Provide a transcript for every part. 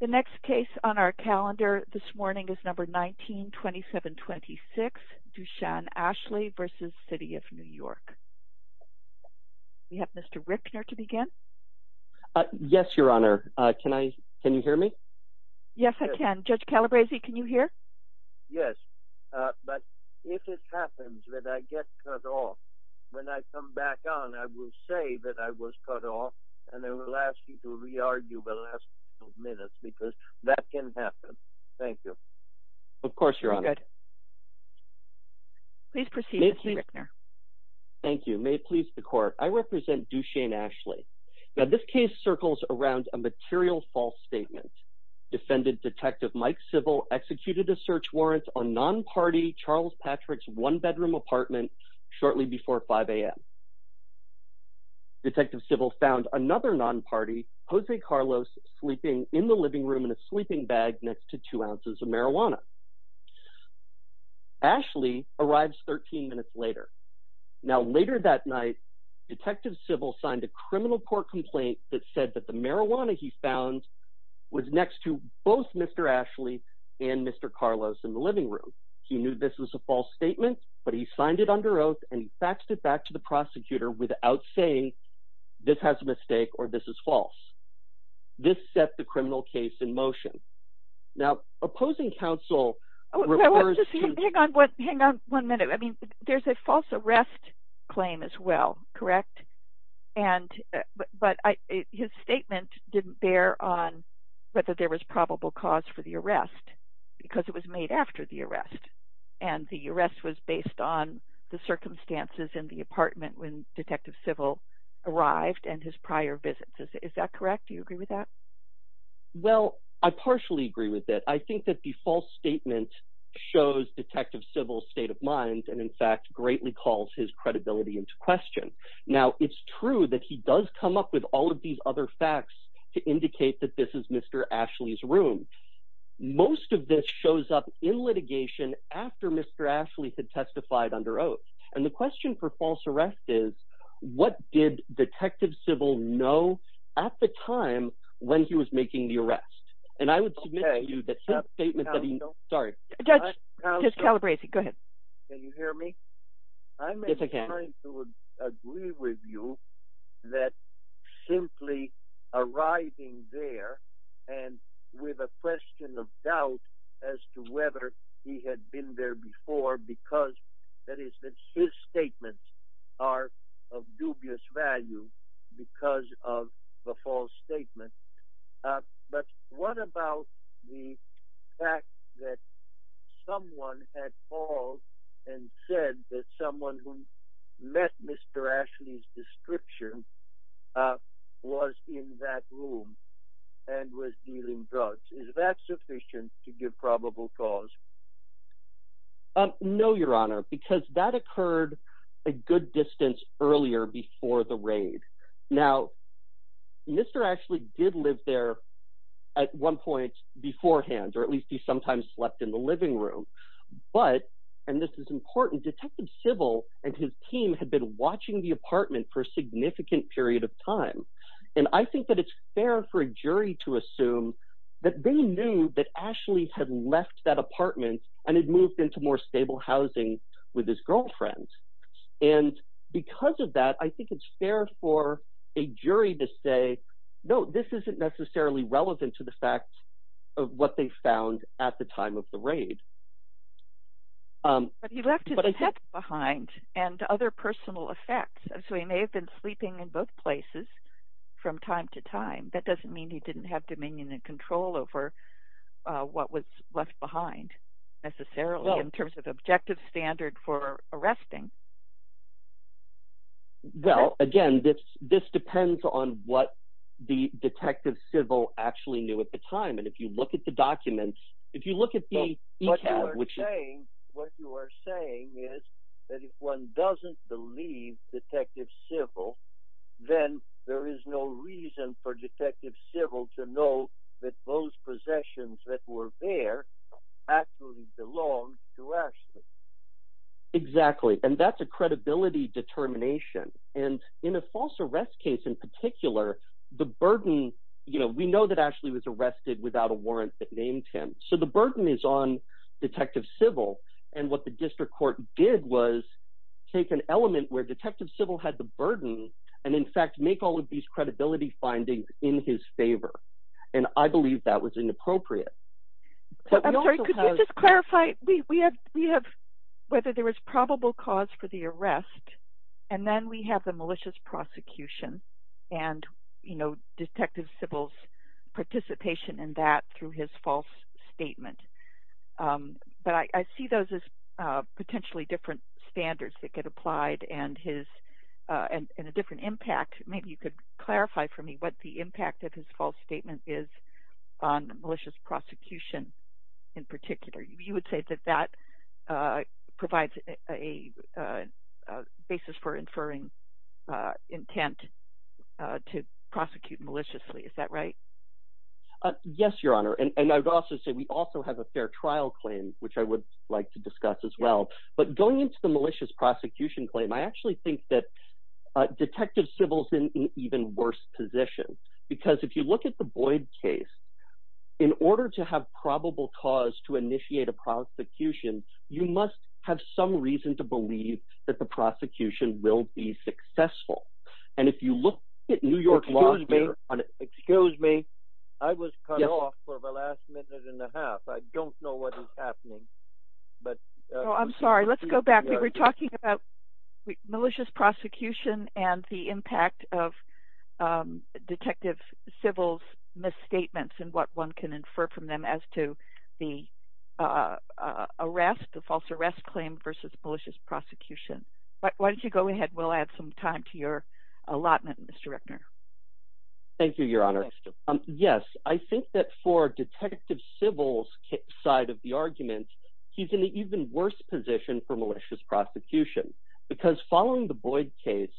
The next case on our calendar this morning is number 19-2726, Dushan Ashley v. City of New York. We have Mr. Rickner to begin. Yes, Your Honor. Can you hear me? Yes, I can. Judge Calabresi, can you hear? Yes, but if it happens that I get cut off, when I come back on, I will say that I was cut off and I will ask you to re-argue the last couple of minutes because that can happen. Thank you. Of course, Your Honor. Please proceed, Mr. Rickner. Thank you. May it please the Court. I represent Dushan Ashley. Now, this case circles around a material false statement. Defendant Detective Mike Civil executed a search warrant on non-party Charles Patrick's one-bedroom apartment shortly before 5 a.m. Detective Civil found another non-party, Jose Carlos, sleeping in the living room in a sleeping bag next to two ounces of marijuana. Ashley arrives 13 minutes later. Now, later that night, Detective Civil signed a criminal court complaint that said that the marijuana he found was next to both Mr. Ashley and Mr. Carlos in the living room. He knew this was a false statement, but he signed it under oath and he faxed it back to the prosecutor without saying, this has a mistake or this is false. This set the criminal case in motion. Now, opposing counsel refers to... Hang on one minute. I mean, there's a false arrest claim as well, correct? But his statement didn't bear on whether there was probable cause for the arrest because it was made after the arrest and the arrest was based on the circumstances in the apartment when Detective Civil arrived and his prior visits. Is that correct? Do you agree with that? Well, I partially agree with that. I think that the false statement shows Detective Civil's state of mind and, in fact, greatly calls his credibility into question. Now, it's true that he does come up with all of these other facts to indicate that this is Mr. Ashley's room. Most of this shows up in litigation after Mr. Ashley had testified under oath. And the question for false arrest is, what did Detective Civil know at the time when he was making the arrest? And I would submit to you that... Judge, Judge Calabresi, go ahead. Can you hear me? Yes, I can. I'm trying to agree with you that simply arriving there and with a question of doubt as to whether he had been there before because, that is, that his statements are of dubious value because of the false statement. But what about the fact that someone had called and said that someone who met Mr. Ashley's description was in that room and was dealing drugs? Is that sufficient to give probable cause? No, Your Honor, because that occurred a good distance earlier before the raid. Now, Mr. Ashley did live there at one point beforehand, or at least he sometimes slept in the living room. But, and this is important, Detective Civil and his team had been watching the apartment for a significant period of time. And I think that it's fair for a jury to assume that they knew that Ashley had left that apartment and had moved into more stable housing with his girlfriend. And because of that, I think it's fair for a jury to say, no, this isn't necessarily relevant to the facts of what they found at the time of the raid. But he left his head behind and other personal effects. So he may have been sleeping in both places from time to time. That doesn't mean he didn't have dominion and control over what was left behind necessarily in terms of objective standard for arresting. Well, again, this depends on what the Detective Civil actually knew at the time. What you are saying is that if one doesn't believe Detective Civil, then there is no reason for Detective Civil to know that those possessions that were there actually belonged to Ashley. Exactly. And that's a credibility determination. And in a false arrest case in particular, the burden, you know, we know that Ashley was arrested without a warrant that named him. So the burden is on Detective Civil. And what the district court did was take an element where Detective Civil had the burden and, in fact, make all of these credibility findings in his favor. And I believe that was inappropriate. I'm sorry, could you just clarify whether there was probable cause for the arrest and then we have the malicious prosecution and, you know, Detective Civil's participation in that through his false statement. But I see those as potentially different standards that get applied and his – and a different impact. Maybe you could clarify for me what the impact of his false statement is on malicious prosecution in particular. You would say that that provides a basis for inferring intent to prosecute maliciously. Is that right? Yes, Your Honor. And I would also say we also have a fair trial claim, which I would like to discuss as well. But going into the malicious prosecution claim, I actually think that Detective Civil's in an even worse position. Because if you look at the Boyd case, in order to have probable cause to initiate a prosecution, you must have some reason to believe that the prosecution will be successful. And if you look at New York Law… Excuse me. Excuse me. I was cut off for the last minute and a half. I don't know what is happening. Oh, I'm sorry. Let's go back. We were talking about malicious prosecution and the impact of Detective Civil's misstatements and what one can infer from them as to the arrest, the false arrest claim versus malicious prosecution. Why don't you go ahead? We'll add some time to your allotment, Mr. Rickner. Thank you, Your Honor. Yes, I think that for Detective Civil's side of the argument, he's in an even worse position for malicious prosecution. Because following the Boyd case,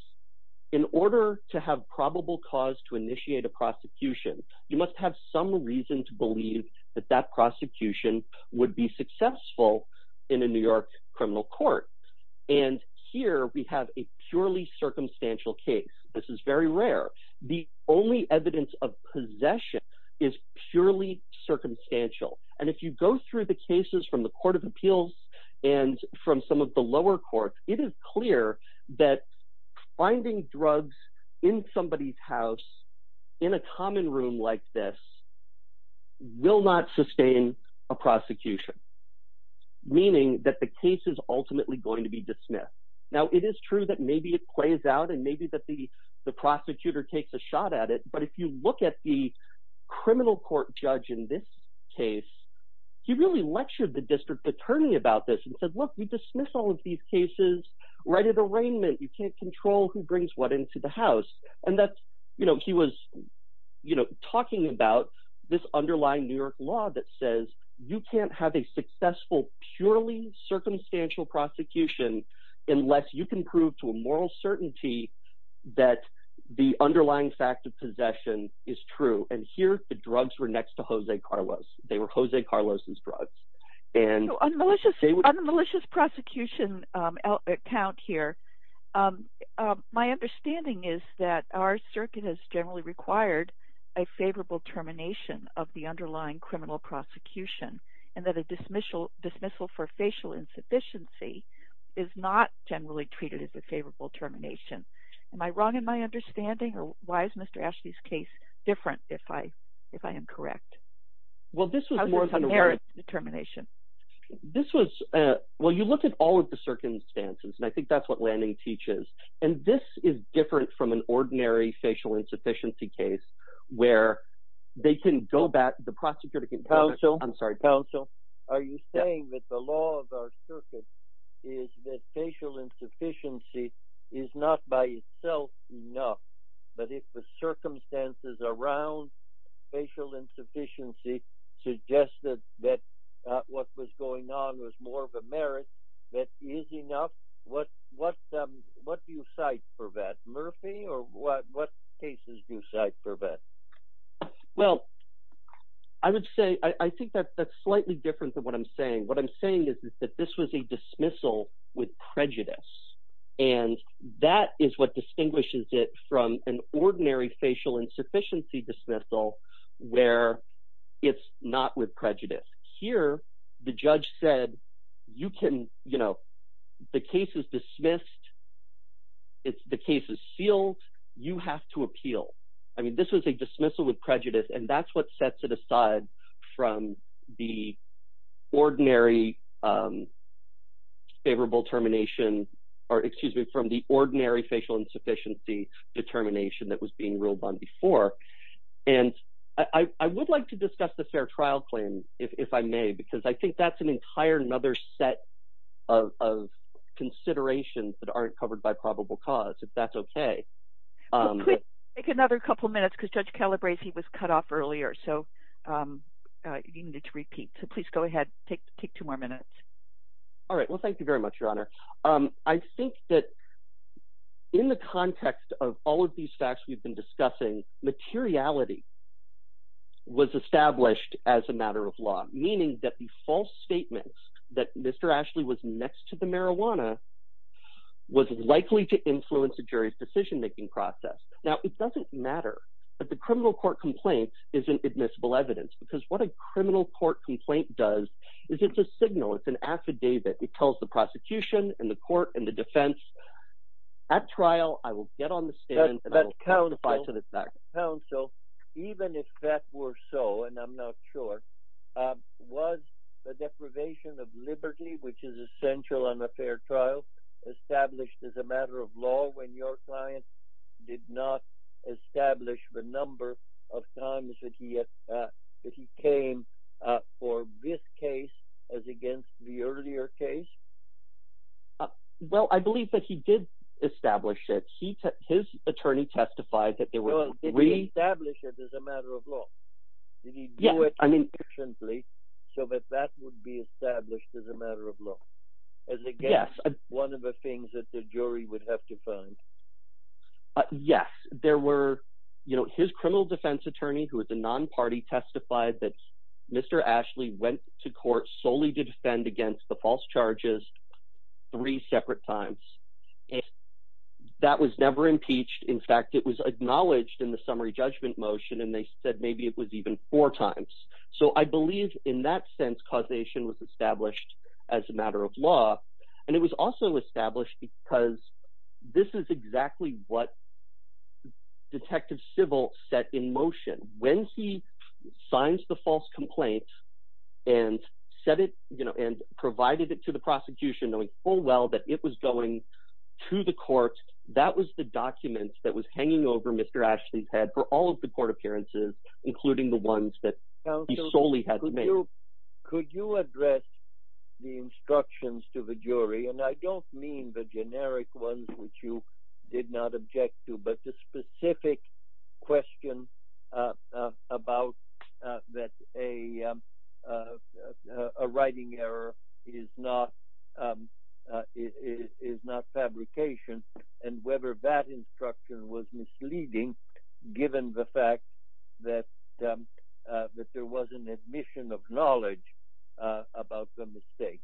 in order to have probable cause to initiate a prosecution, you must have some reason to believe that that prosecution would be successful in a New York criminal court. And here we have a purely circumstantial case. This is very rare. The only evidence of possession is purely circumstantial. And if you go through the cases from the Court of Appeals and from some of the lower courts, it is clear that finding drugs in somebody's house in a common room like this will not sustain a prosecution. Meaning that the case is ultimately going to be dismissed. Now, it is true that maybe it plays out, and maybe that the prosecutor takes a shot at it. But if you look at the criminal court judge in this case, he really lectured the district attorney about this and said, look, we dismiss all of these cases right at arraignment. You can't control who brings what into the house. And he was talking about this underlying New York law that says you can't have a successful, purely circumstantial prosecution unless you can prove to a moral certainty that the underlying fact of possession is true. And here the drugs were next to Jose Carlos. They were Jose Carlos' drugs. On the malicious prosecution account here, my understanding is that our circuit has generally required a favorable termination of the underlying criminal prosecution. And that a dismissal for facial insufficiency is not generally treated as a favorable termination. Am I wrong in my understanding, or why is Mr. Ashley's case different if I am correct? How does it merit a termination? Well, you look at all of the circumstances, and I think that's what Lanning teaches. And this is different from an ordinary facial insufficiency case where they can go back, the prosecutor can go back… Counsel, are you saying that the law of our circuit is that facial insufficiency is not by itself enough, but if the circumstances around facial insufficiency suggested that what was going on was more of a merit, that is enough? What do you cite for that? Murphy, or what cases do you cite for that? Well, I would say – I think that's slightly different than what I'm saying. What I'm saying is that this was a dismissal with prejudice, and that is what distinguishes it from an ordinary facial insufficiency dismissal where it's not with prejudice. Here, the judge said you can – the case is dismissed. The case is sealed. You have to appeal. I mean this was a dismissal with prejudice, and that's what sets it aside from the ordinary favorable termination – or excuse me, from the ordinary facial insufficiency determination that was being ruled on before. And I would like to discuss the fair trial claim if I may because I think that's an entire other set of considerations that aren't covered by probable cause, if that's okay. We'll take another couple minutes because Judge Calabresi was cut off earlier, so you need to repeat. So please go ahead. Take two more minutes. All right. Well, thank you very much, Your Honor. I think that in the context of all of these facts we've been discussing, materiality was established as a matter of law, meaning that the false statements that Mr. Ashley was next to the marijuana was likely to influence a jury's decision-making process. Now, it doesn't matter that the criminal court complaint isn't admissible evidence because what a criminal court complaint does is it's a signal. It's an affidavit. It tells the prosecution and the court and the defense, at trial, I will get on the stand and I will testify to the fact. Even if that were so, and I'm not sure, was the deprivation of liberty, which is essential on a fair trial, established as a matter of law when your client did not establish the number of times that he came for this case as against the earlier case? Well, I believe that he did establish it. His attorney testified that there were three… Well, did he establish it as a matter of law? Did he do it sufficiently so that that would be established as a matter of law as against one of the things that the jury would have to find? Yes. There were… His criminal defense attorney, who is a non-party, testified that Mr. Ashley went to court solely to defend against the false charges three separate times. That was never impeached. In fact, it was acknowledged in the summary judgment motion, and they said maybe it was even four times. So I believe in that sense causation was established as a matter of law, and it was also established because this is exactly what Detective Civil set in motion. When he signs the false complaint and provided it to the prosecution knowing full well that it was going to the court, that was the document that was hanging over Mr. Ashley's head for all of the court appearances, including the ones that he solely had to make. Could you address the instructions to the jury, and I don't mean the generic ones which you did not object to, but the specific question about that a writing error is not fabrication, and whether that instruction was misleading given the fact that there was an admission of knowledge about the mistake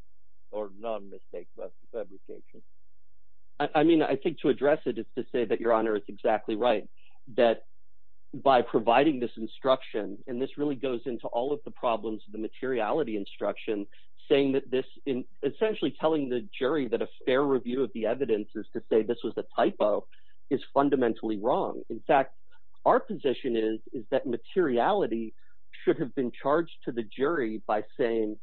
or non-mistake fabrication? I mean, I think to address it is to say that Your Honor is exactly right, that by providing this instruction, and this really goes into all of the problems of the materiality instruction, saying that this is essentially telling the jury that a fair review of the evidence is to say this was a typo is fundamentally wrong. In fact, our position is that materiality should have been charged to the jury by saying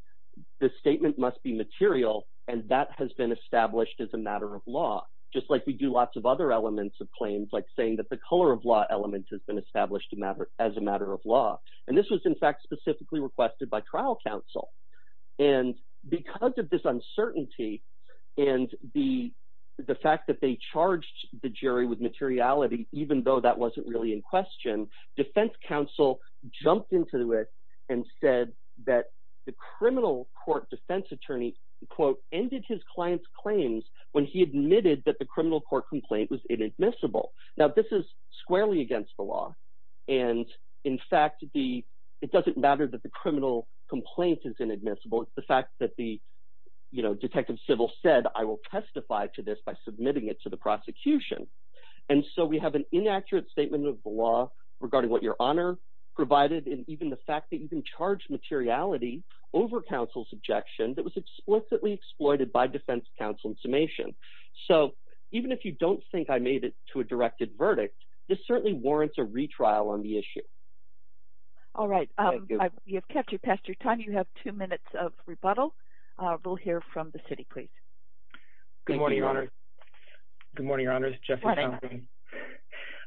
the statement must be material, and that has been established as a matter of law, just like we do lots of other elements of claims like saying that the color of law element has been established as a matter of law. And this was, in fact, specifically requested by trial counsel, and because of this uncertainty and the fact that they charged the jury with materiality even though that wasn't really in question, defense counsel jumped into it and said that the criminal court defense attorney, quote, ended his client's claims when he admitted that the criminal court complaint was inadmissible. Now, this is squarely against the law, and in fact, it doesn't matter that the criminal complaint is inadmissible. It's the fact that the detective civil said I will testify to this by submitting it to the prosecution. And so we have an inaccurate statement of the law regarding what Your Honor provided and even the fact that you can charge materiality over counsel's objection that was explicitly exploited by defense counsel in summation. So even if you don't think I made it to a directed verdict, this certainly warrants a retrial on the issue. All right. We have kept you past your time. You have two minutes of rebuttal. We'll hear from the city, please. Good morning, Your Honor. Good morning, Your Honors. Good morning.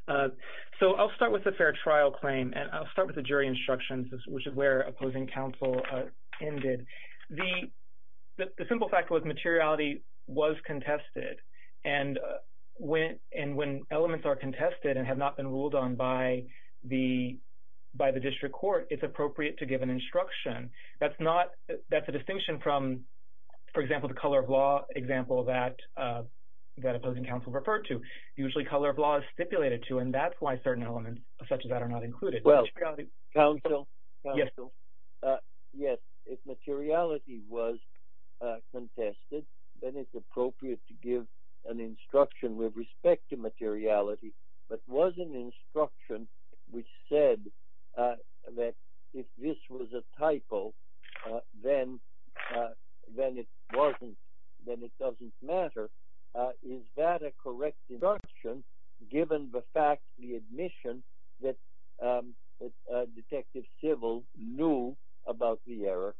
So I'll start with the fair trial claim, and I'll start with the jury instructions, which is where opposing counsel ended. The simple fact was materiality was contested, and when elements are contested and have not been ruled on by the district court, it's appropriate to give an instruction. That's not – that's a distinction from, for example, the color of law example that opposing counsel referred to. Usually, color of law is stipulated to, and that's why certain elements such as that are not included. Counsel? Yes. Yes. If materiality was contested, then it's appropriate to give an instruction with respect to materiality. But was an instruction which said that if this was a typo, then it wasn't – then it doesn't matter. Is that a correct instruction, given the fact, the admission that Detective Civil knew about the error,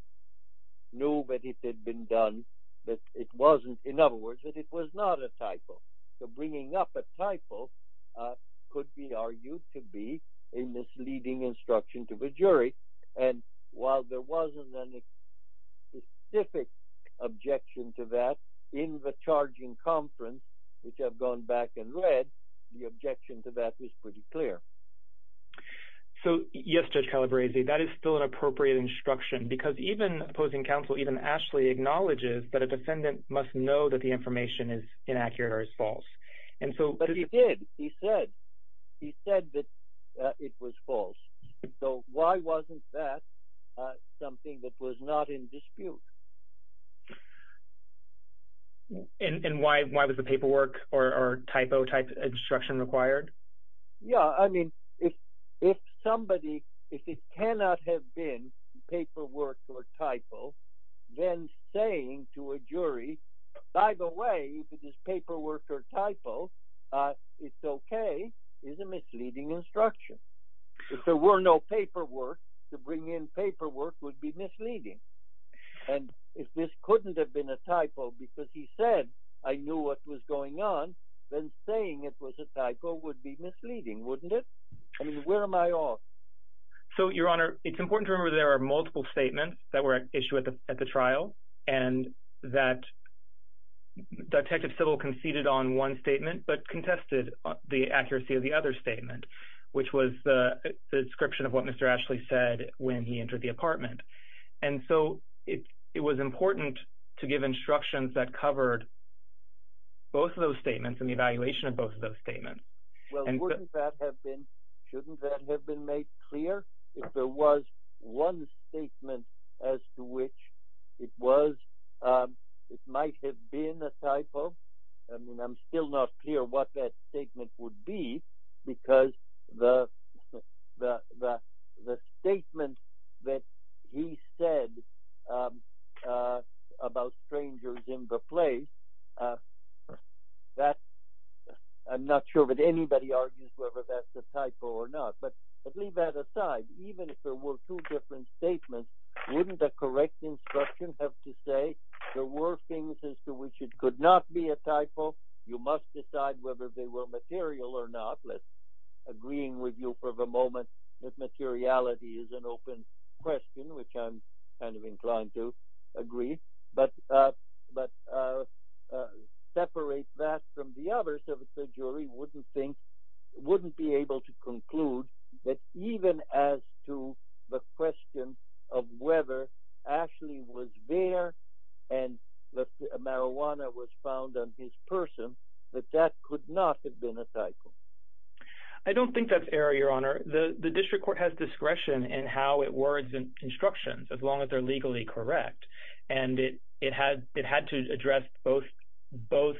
knew that it had been done, that it wasn't – in other words, that it was not a typo? So bringing up a typo could be argued to be a misleading instruction to the jury. And while there wasn't any specific objection to that in the charging conference, which I've gone back and read, the objection to that was pretty clear. So, yes, Judge Calabresi, that is still an appropriate instruction, because even opposing counsel, even Ashley, acknowledges that a defendant must know that the information is inaccurate or is false. But he did. He said. He said that it was false. So why wasn't that something that was not in dispute? And why was the paperwork or typo-type instruction required? Yeah, I mean, if somebody – if it cannot have been paperwork or typo, then saying to a jury, by the way, if it is paperwork or typo, it's okay, is a misleading instruction. If there were no paperwork, to bring in paperwork would be misleading. And if this couldn't have been a typo because he said, I knew what was going on, then saying it was a typo would be misleading, wouldn't it? I mean, where am I off? So, Your Honor, it's important to remember there are multiple statements that were issued at the trial, and that Detective Sittle conceded on one statement but contested the accuracy of the other statement, which was the description of what Mr. Ashley said when he entered the apartment. And so it was important to give instructions that covered both of those statements and the evaluation of both of those statements. Well, wouldn't that have been – shouldn't that have been made clear if there was one statement as to which it was – it might have been a typo? I mean, I'm still not clear what that statement would be because the statement that he said about strangers in the place, that – I'm not sure that anybody argues whether that's a typo or not. But leave that aside. Even if there were two different statements, wouldn't the correct instruction have to say there were things as to which it could not be a typo? You must decide whether they were material or not. Let's agree with you for the moment that materiality is an open question, which I'm kind of inclined to agree. But separate that from the others so that the jury wouldn't think – wouldn't be able to conclude that even as to the question of whether Ashley was there and the marijuana was found on his person, that that could not have been a typo. I don't think that's error, Your Honor. The district court has discretion in how it words instructions as long as they're legally correct. And it had to address both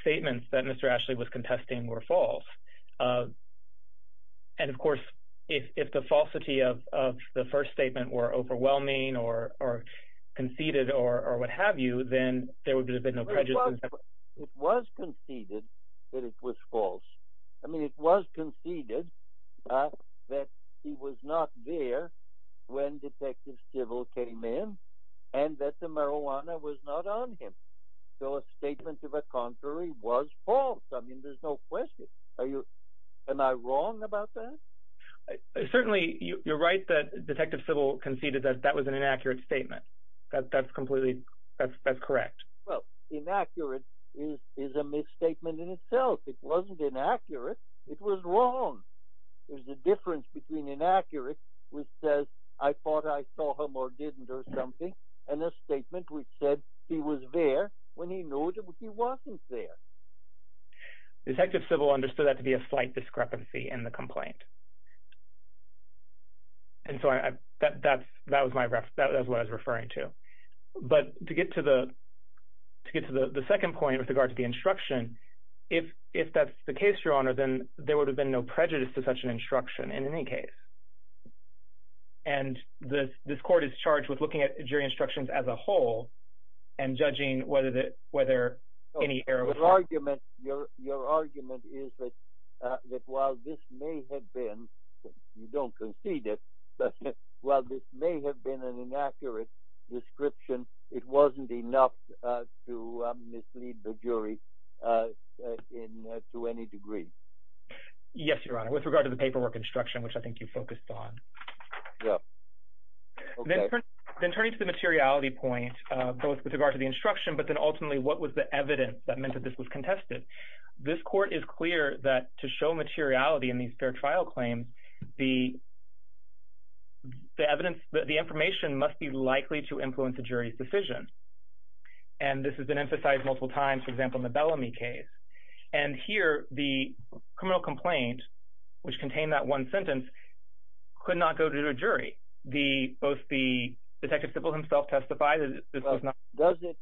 statements that Mr. Ashley was contesting were false. And of course, if the falsity of the first statement were overwhelming or conceded or what have you, then there would have been no prejudice. It was conceded that it was false. I mean, it was conceded that he was not there when Detective Civil came in and that the marijuana was not on him. So a statement of a contrary was false. I mean, there's no question. Am I wrong about that? Certainly, you're right that Detective Civil conceded that that was an inaccurate statement. That's completely – that's correct. Well, inaccurate is a misstatement in itself. It wasn't inaccurate. It was wrong. There's a difference between inaccurate, which says, I thought I saw him or didn't or something, and a statement which said he was there when he knew he wasn't there. Detective Civil understood that to be a slight discrepancy in the complaint. And so that's what I was referring to. But to get to the second point with regard to the instruction, if that's the case, Your Honor, then there would have been no prejudice to such an instruction in any case. And this court is charged with looking at jury instructions as a whole and judging whether any error was made. Your argument is that while this may have been – you don't concede it – but while this may have been an inaccurate description, it wasn't enough to mislead the jury to any degree. Yes, Your Honor, with regard to the paperwork instruction, which I think you focused on. Then turning to the materiality point, both with regard to the instruction, but then ultimately what was the evidence that meant that this was contested, this court is clear that to show materiality in these fair trial claims, the evidence – the information must be likely to influence a jury's decision. And this has been emphasized multiple times, for example, in the Bellamy case. And here the criminal complaint, which contained that one sentence, could not go to a jury. Both the – Detective Civil himself testified that this was not – So I would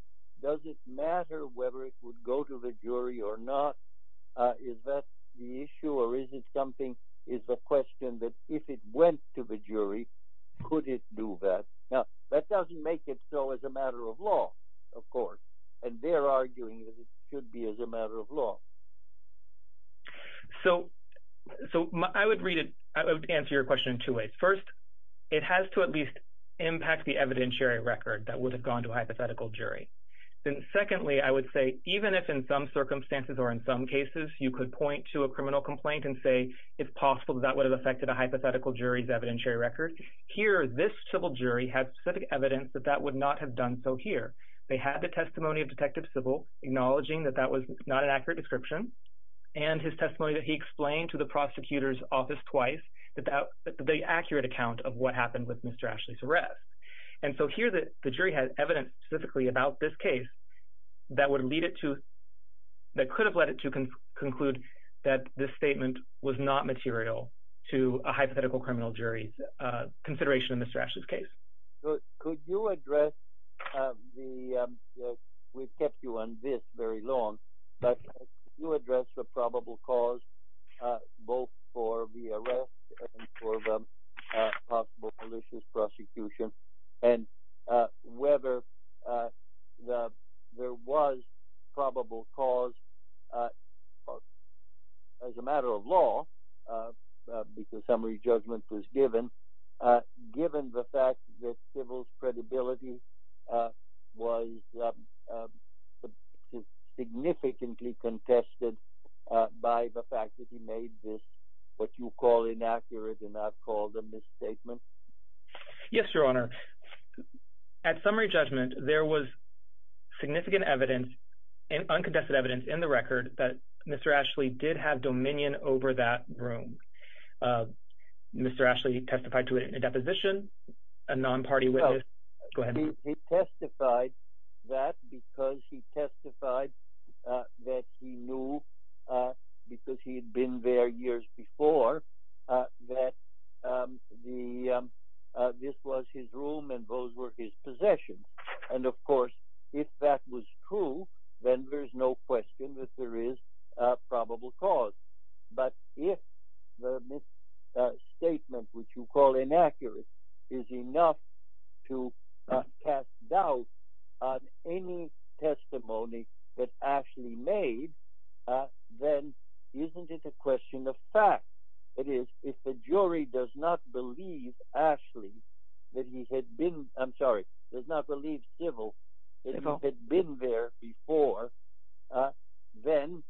read it – I would answer your question in two ways. First, it has to at least impact the evidentiary record that would have gone to a hypothetical jury. Then secondly, I would say even if in some circumstances or in some cases you could point to a criminal complaint and say, if possible, that would have affected a hypothetical jury's evidentiary record, here this civil jury had specific evidence that that would not have done so here. They had the testimony of Detective Civil acknowledging that that was not an accurate description and his testimony that he explained to the prosecutor's office twice that that – the accurate account of what happened with Mr. Ashley's arrest. And so here the jury had evidence specifically about this case that would lead it to – that could have led it to conclude that this statement was not material to a hypothetical criminal jury's consideration in Mr. Ashley's case. So could you address the – we've kept you on this very long, but could you address the probable cause both for the arrest and for the possible malicious prosecution and whether there was probable cause as a matter of law, because summary judgment was given, given the fact that Civil's credibility was significantly contested by the fact that he made this what you call inaccurate and I've called a misstatement? Yes, Your Honor. At summary judgment, there was significant evidence and uncontested evidence in the record that Mr. Ashley did have dominion over that room. Mr. Ashley testified to it in a deposition, a non-party witness – go ahead. He testified that because he testified that he knew because he had been there years before that the – this was his room and those were his possessions. And of course, if that was true, then there's no question that there is probable cause. But if the misstatement, which you call inaccurate, is enough to cast doubt on any testimony that Ashley made, then isn't it a question of fact? That is, if the jury does not believe Ashley that he had been – I'm sorry, does not believe Civil that he had been there before, then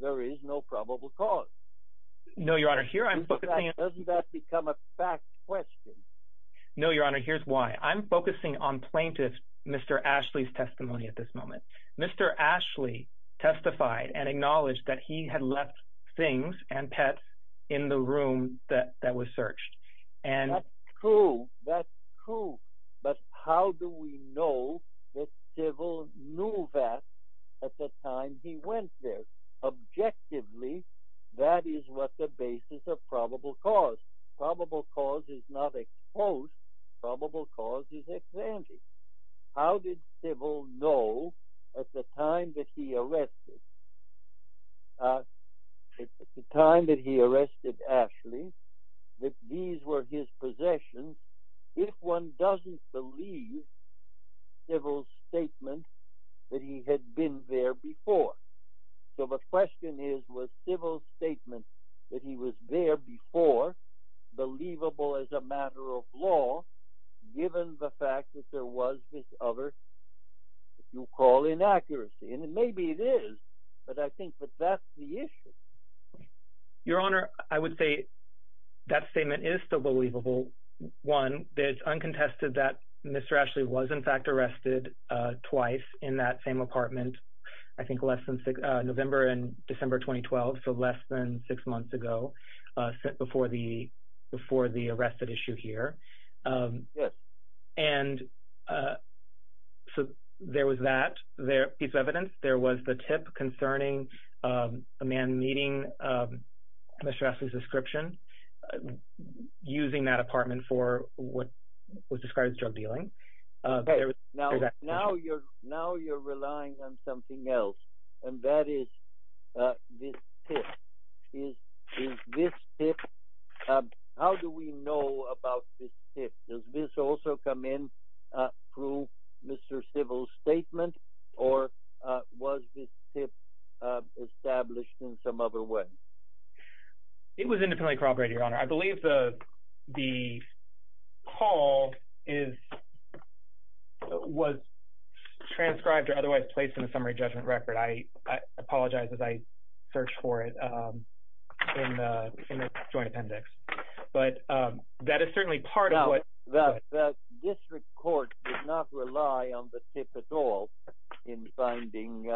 there is no probable cause. No, Your Honor. Here I'm focusing on – Doesn't that become a fact question? No, Your Honor. Here's why. I'm focusing on plaintiff Mr. Ashley's testimony at this moment. Mr. Ashley testified and acknowledged that he had left things and pets in the room that was searched. That's true. That's true. But how do we know that Civil knew that at the time he went there? Objectively, that is what the basis of probable cause. Probable cause is not exposed. Probable cause is examined. How did Civil know at the time that he arrested Ashley that these were his possessions if one doesn't believe Civil's statement that he had been there before? So the question is, was Civil's statement that he was there before believable as a matter of law, given the fact that there was this other, you call inaccuracy? And maybe it is, but I think that that's the issue. Your Honor, I would say that statement is still believable. One, it's uncontested that Mr. Ashley was in fact arrested twice in that same apartment, I think less than – November and December 2012, so less than six months ago before the arrested issue here. Yes. And so there was that piece of evidence. There was the tip concerning a man meeting Mr. Ashley's description, using that apartment for what was described as drug dealing. Now you're relying on something else, and that is this tip. Is this tip – how do we know about this tip? Does this also come in through Mr. Civil's statement, or was this tip established in some other way? It was independently corroborated, Your Honor. I believe the call was transcribed or otherwise placed in the summary judgment record. I apologize as I search for it in the joint appendix. But that is certainly part of what – The district court did not rely on the tip at all in finding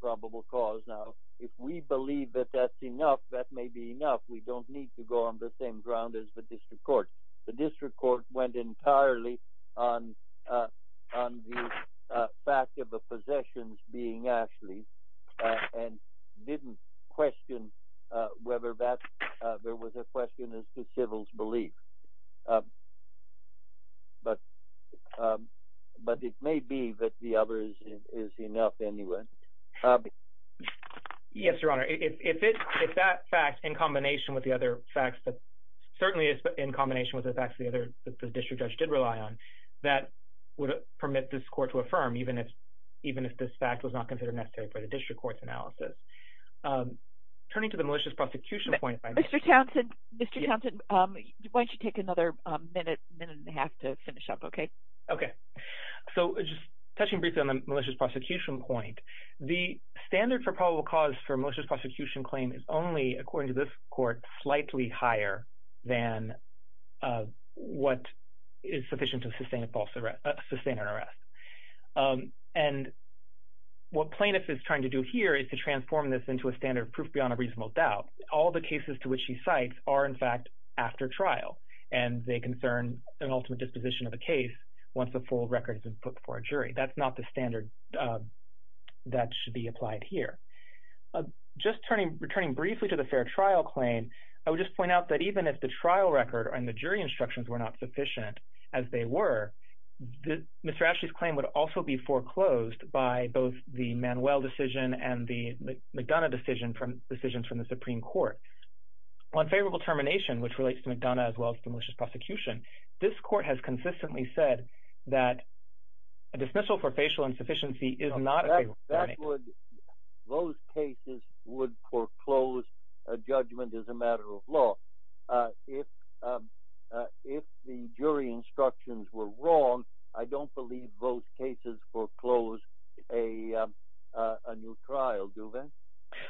probable cause. Now if we believe that that's enough, that may be enough. We don't need to go on the same ground as the district court. The district court went entirely on the fact of the possessions being Ashley and didn't question whether that – there was a question as to Civil's belief. But it may be that the other is enough anyway. Yes, Your Honor. If that fact in combination with the other facts that – certainly in combination with the facts that the district judge did rely on, that would permit this court to affirm even if this fact was not considered necessary by the district court's analysis. Turning to the malicious prosecution point – Mr. Townsend, why don't you take another minute, minute and a half to finish up, okay? Okay. So just touching briefly on the malicious prosecution point, the standard for probable cause for malicious prosecution claim is only, according to this court, slightly higher than what is sufficient to sustain a false – sustain an arrest. And what plaintiff is trying to do here is to transform this into a standard of proof beyond a reasonable doubt. All the cases to which he cites are, in fact, after trial, and they concern an ultimate disposition of a case once the full record has been put before a jury. That's not the standard that should be applied here. Just returning briefly to the fair trial claim, I would just point out that even if the trial record and the jury instructions were not sufficient, as they were, Mr. Ashley's claim would also be foreclosed by both the Manuel decision and the McDonough decision from – decisions from the Supreme Court. On favorable termination, which relates to McDonough as well as the malicious prosecution, this court has consistently said that a dismissal for facial insufficiency is not a favorable termination. Those cases would foreclose a judgment as a matter of law. If the jury instructions were wrong, I don't believe those cases foreclose a new trial, do they?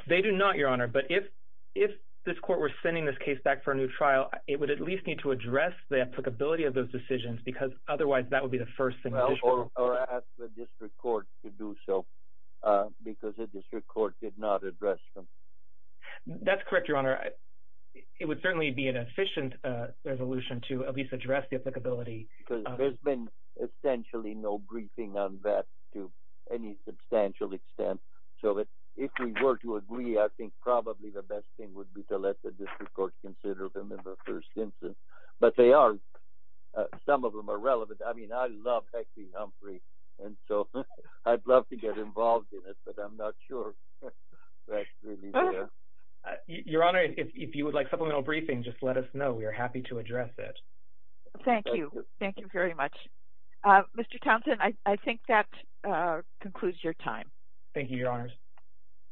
They do not, Your Honor, but if this court were sending this case back for a new trial, it would at least need to address the applicability of those decisions because otherwise that would be the first thing that this court would do. Or ask the district court to do so because the district court did not address them. That's correct, Your Honor. It would certainly be an efficient resolution to at least address the applicability. There's been essentially no briefing on that to any substantial extent, so if we were to agree, I think probably the best thing would be to let the district court consider them in the first instance. But they are, some of them are relevant. I mean, I love Hexie Humphrey, and so I'd love to get involved in it, but I'm not sure that's really there. Your Honor, if you would like supplemental briefing, just let us know. We are happy to address it. Thank you. Thank you very much. Mr. Townsend, I think that concludes your time. Thank you, Your Honors.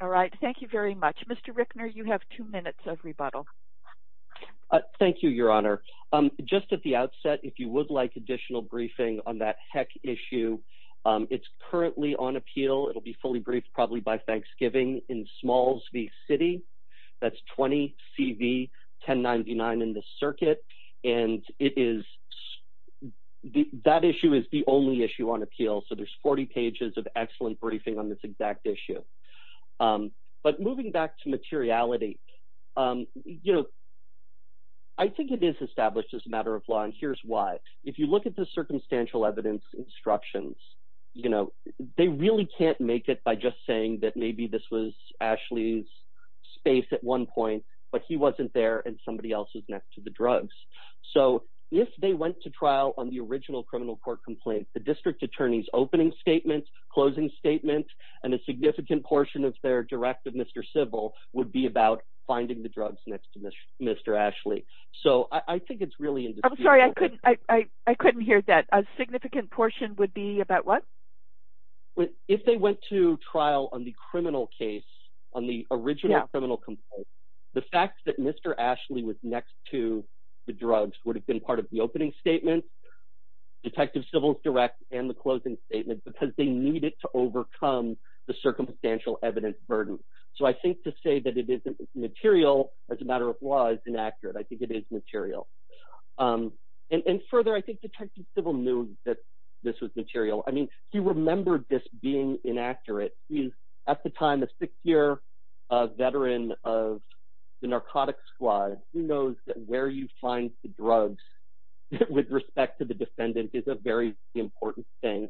All right. Thank you very much. Mr. Rickner, you have two minutes of rebuttal. Thank you, Your Honor. Just at the outset, if you would like additional briefing on that HEC issue, it's currently on appeal. It'll be fully briefed probably by Thanksgiving in Smalls v. City. That's 20 CV 1099 in the circuit. And it is, that issue is the only issue on appeal, so there's 40 pages of excellent briefing on this exact issue. But moving back to materiality, you know, I think it is established as a matter of law, and here's why. If you look at the circumstantial evidence instructions, you know, they really can't make it by just saying that maybe this was Ashley's space at one point, but he wasn't there and somebody else was next to the drugs. So if they went to trial on the original criminal court complaint, the district attorney's opening statement, closing statement, and a significant portion of their directive, Mr. Civil, would be about finding the drugs next to Mr. Ashley. So I think it's really indisputable. I'm sorry, I couldn't hear that. A significant portion would be about what? If they went to trial on the criminal case, on the original criminal complaint, the fact that Mr. Ashley was next to the drugs would have been part of the opening statement, Detective Civil's direct, and the closing statement because they needed to overcome the circumstantial evidence burden. So I think to say that it isn't material as a matter of law is inaccurate. I think it is material. And further, I think Detective Civil knew that this was material. I mean, he remembered this being inaccurate. He's, at the time, a six-year veteran of the narcotics squad. He knows that where you find the drugs with respect to the defendant is a very important thing.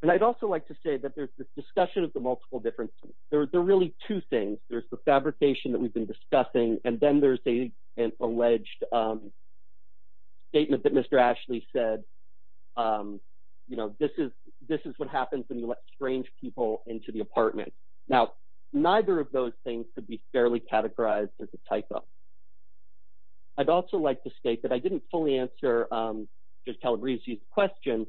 And I'd also like to say that there's this discussion of the multiple differences. There are really two things. There's the fabrication that we've been discussing, and then there's an alleged statement that Mr. Ashley said, you know, this is what happens when you let strange people into the apartment. Now, neither of those things could be fairly categorized as a typo. I'd also like to state that I didn't fully answer Judge Calabresi's question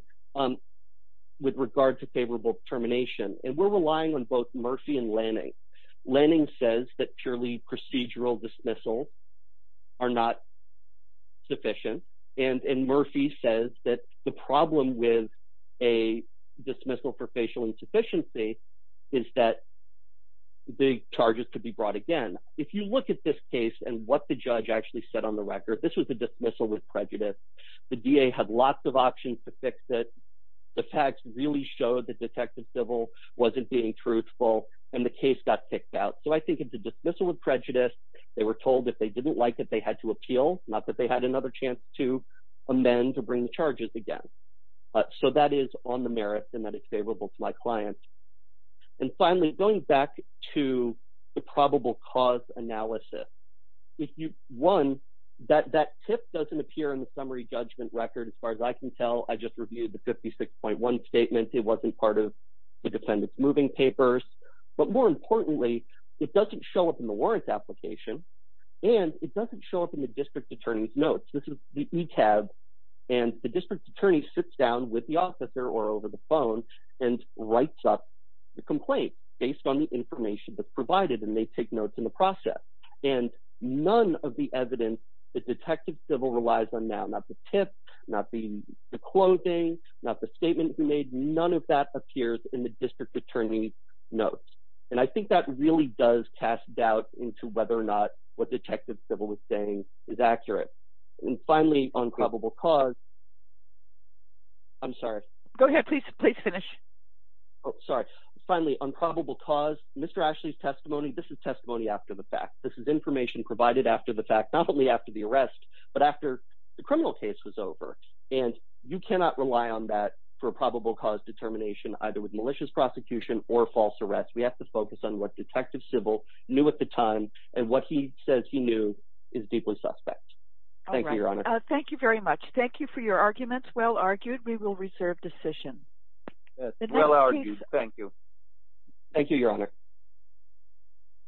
with regard to favorable determination, and we're relying on both Murphy and Lanning. Lanning says that purely procedural dismissals are not sufficient, and Murphy says that the problem with a dismissal for facial insufficiency is that the charges could be brought again. If you look at this case and what the judge actually said on the record, this was a dismissal with prejudice. The DA had lots of options to fix it. The facts really showed that Detective Civil wasn't being truthful, and the case got kicked out. So I think it's a dismissal with prejudice. They were told that they didn't like it, they had to appeal, not that they had another chance to amend or bring the charges again. So that is on the merits and that it's favorable to my client. And finally, going back to the probable cause analysis, one, that tip doesn't appear in the summary judgment record. As far as I can tell, I just reviewed the 56.1 statement. It wasn't part of the defendant's moving papers. But more importantly, it doesn't show up in the warrants application, and it doesn't show up in the district attorney's notes. This is the ETAB, and the district attorney sits down with the officer or over the phone and writes up the complaint based on the information that's provided, and they take notes in the process. And none of the evidence that Detective Civil relies on now, not the tip, not the closing, not the statement he made, none of that appears in the district attorney's notes. And I think that really does cast doubt into whether or not what Detective Civil was saying is accurate. And finally, on probable cause – I'm sorry. Go ahead. Please finish. Sorry. Finally, on probable cause, Mr. Ashley's testimony, this is testimony after the fact. This is information provided after the fact, not only after the arrest, but after the criminal case was over. And you cannot rely on that for probable cause determination, either with malicious prosecution or false arrests. We have to focus on what Detective Civil knew at the time, and what he says he knew is deeply suspect. Thank you, Your Honor. All right. Thank you very much. Thank you for your arguments. Well argued. We will reserve decision. Well argued. Thank you. Thank you, Your Honor.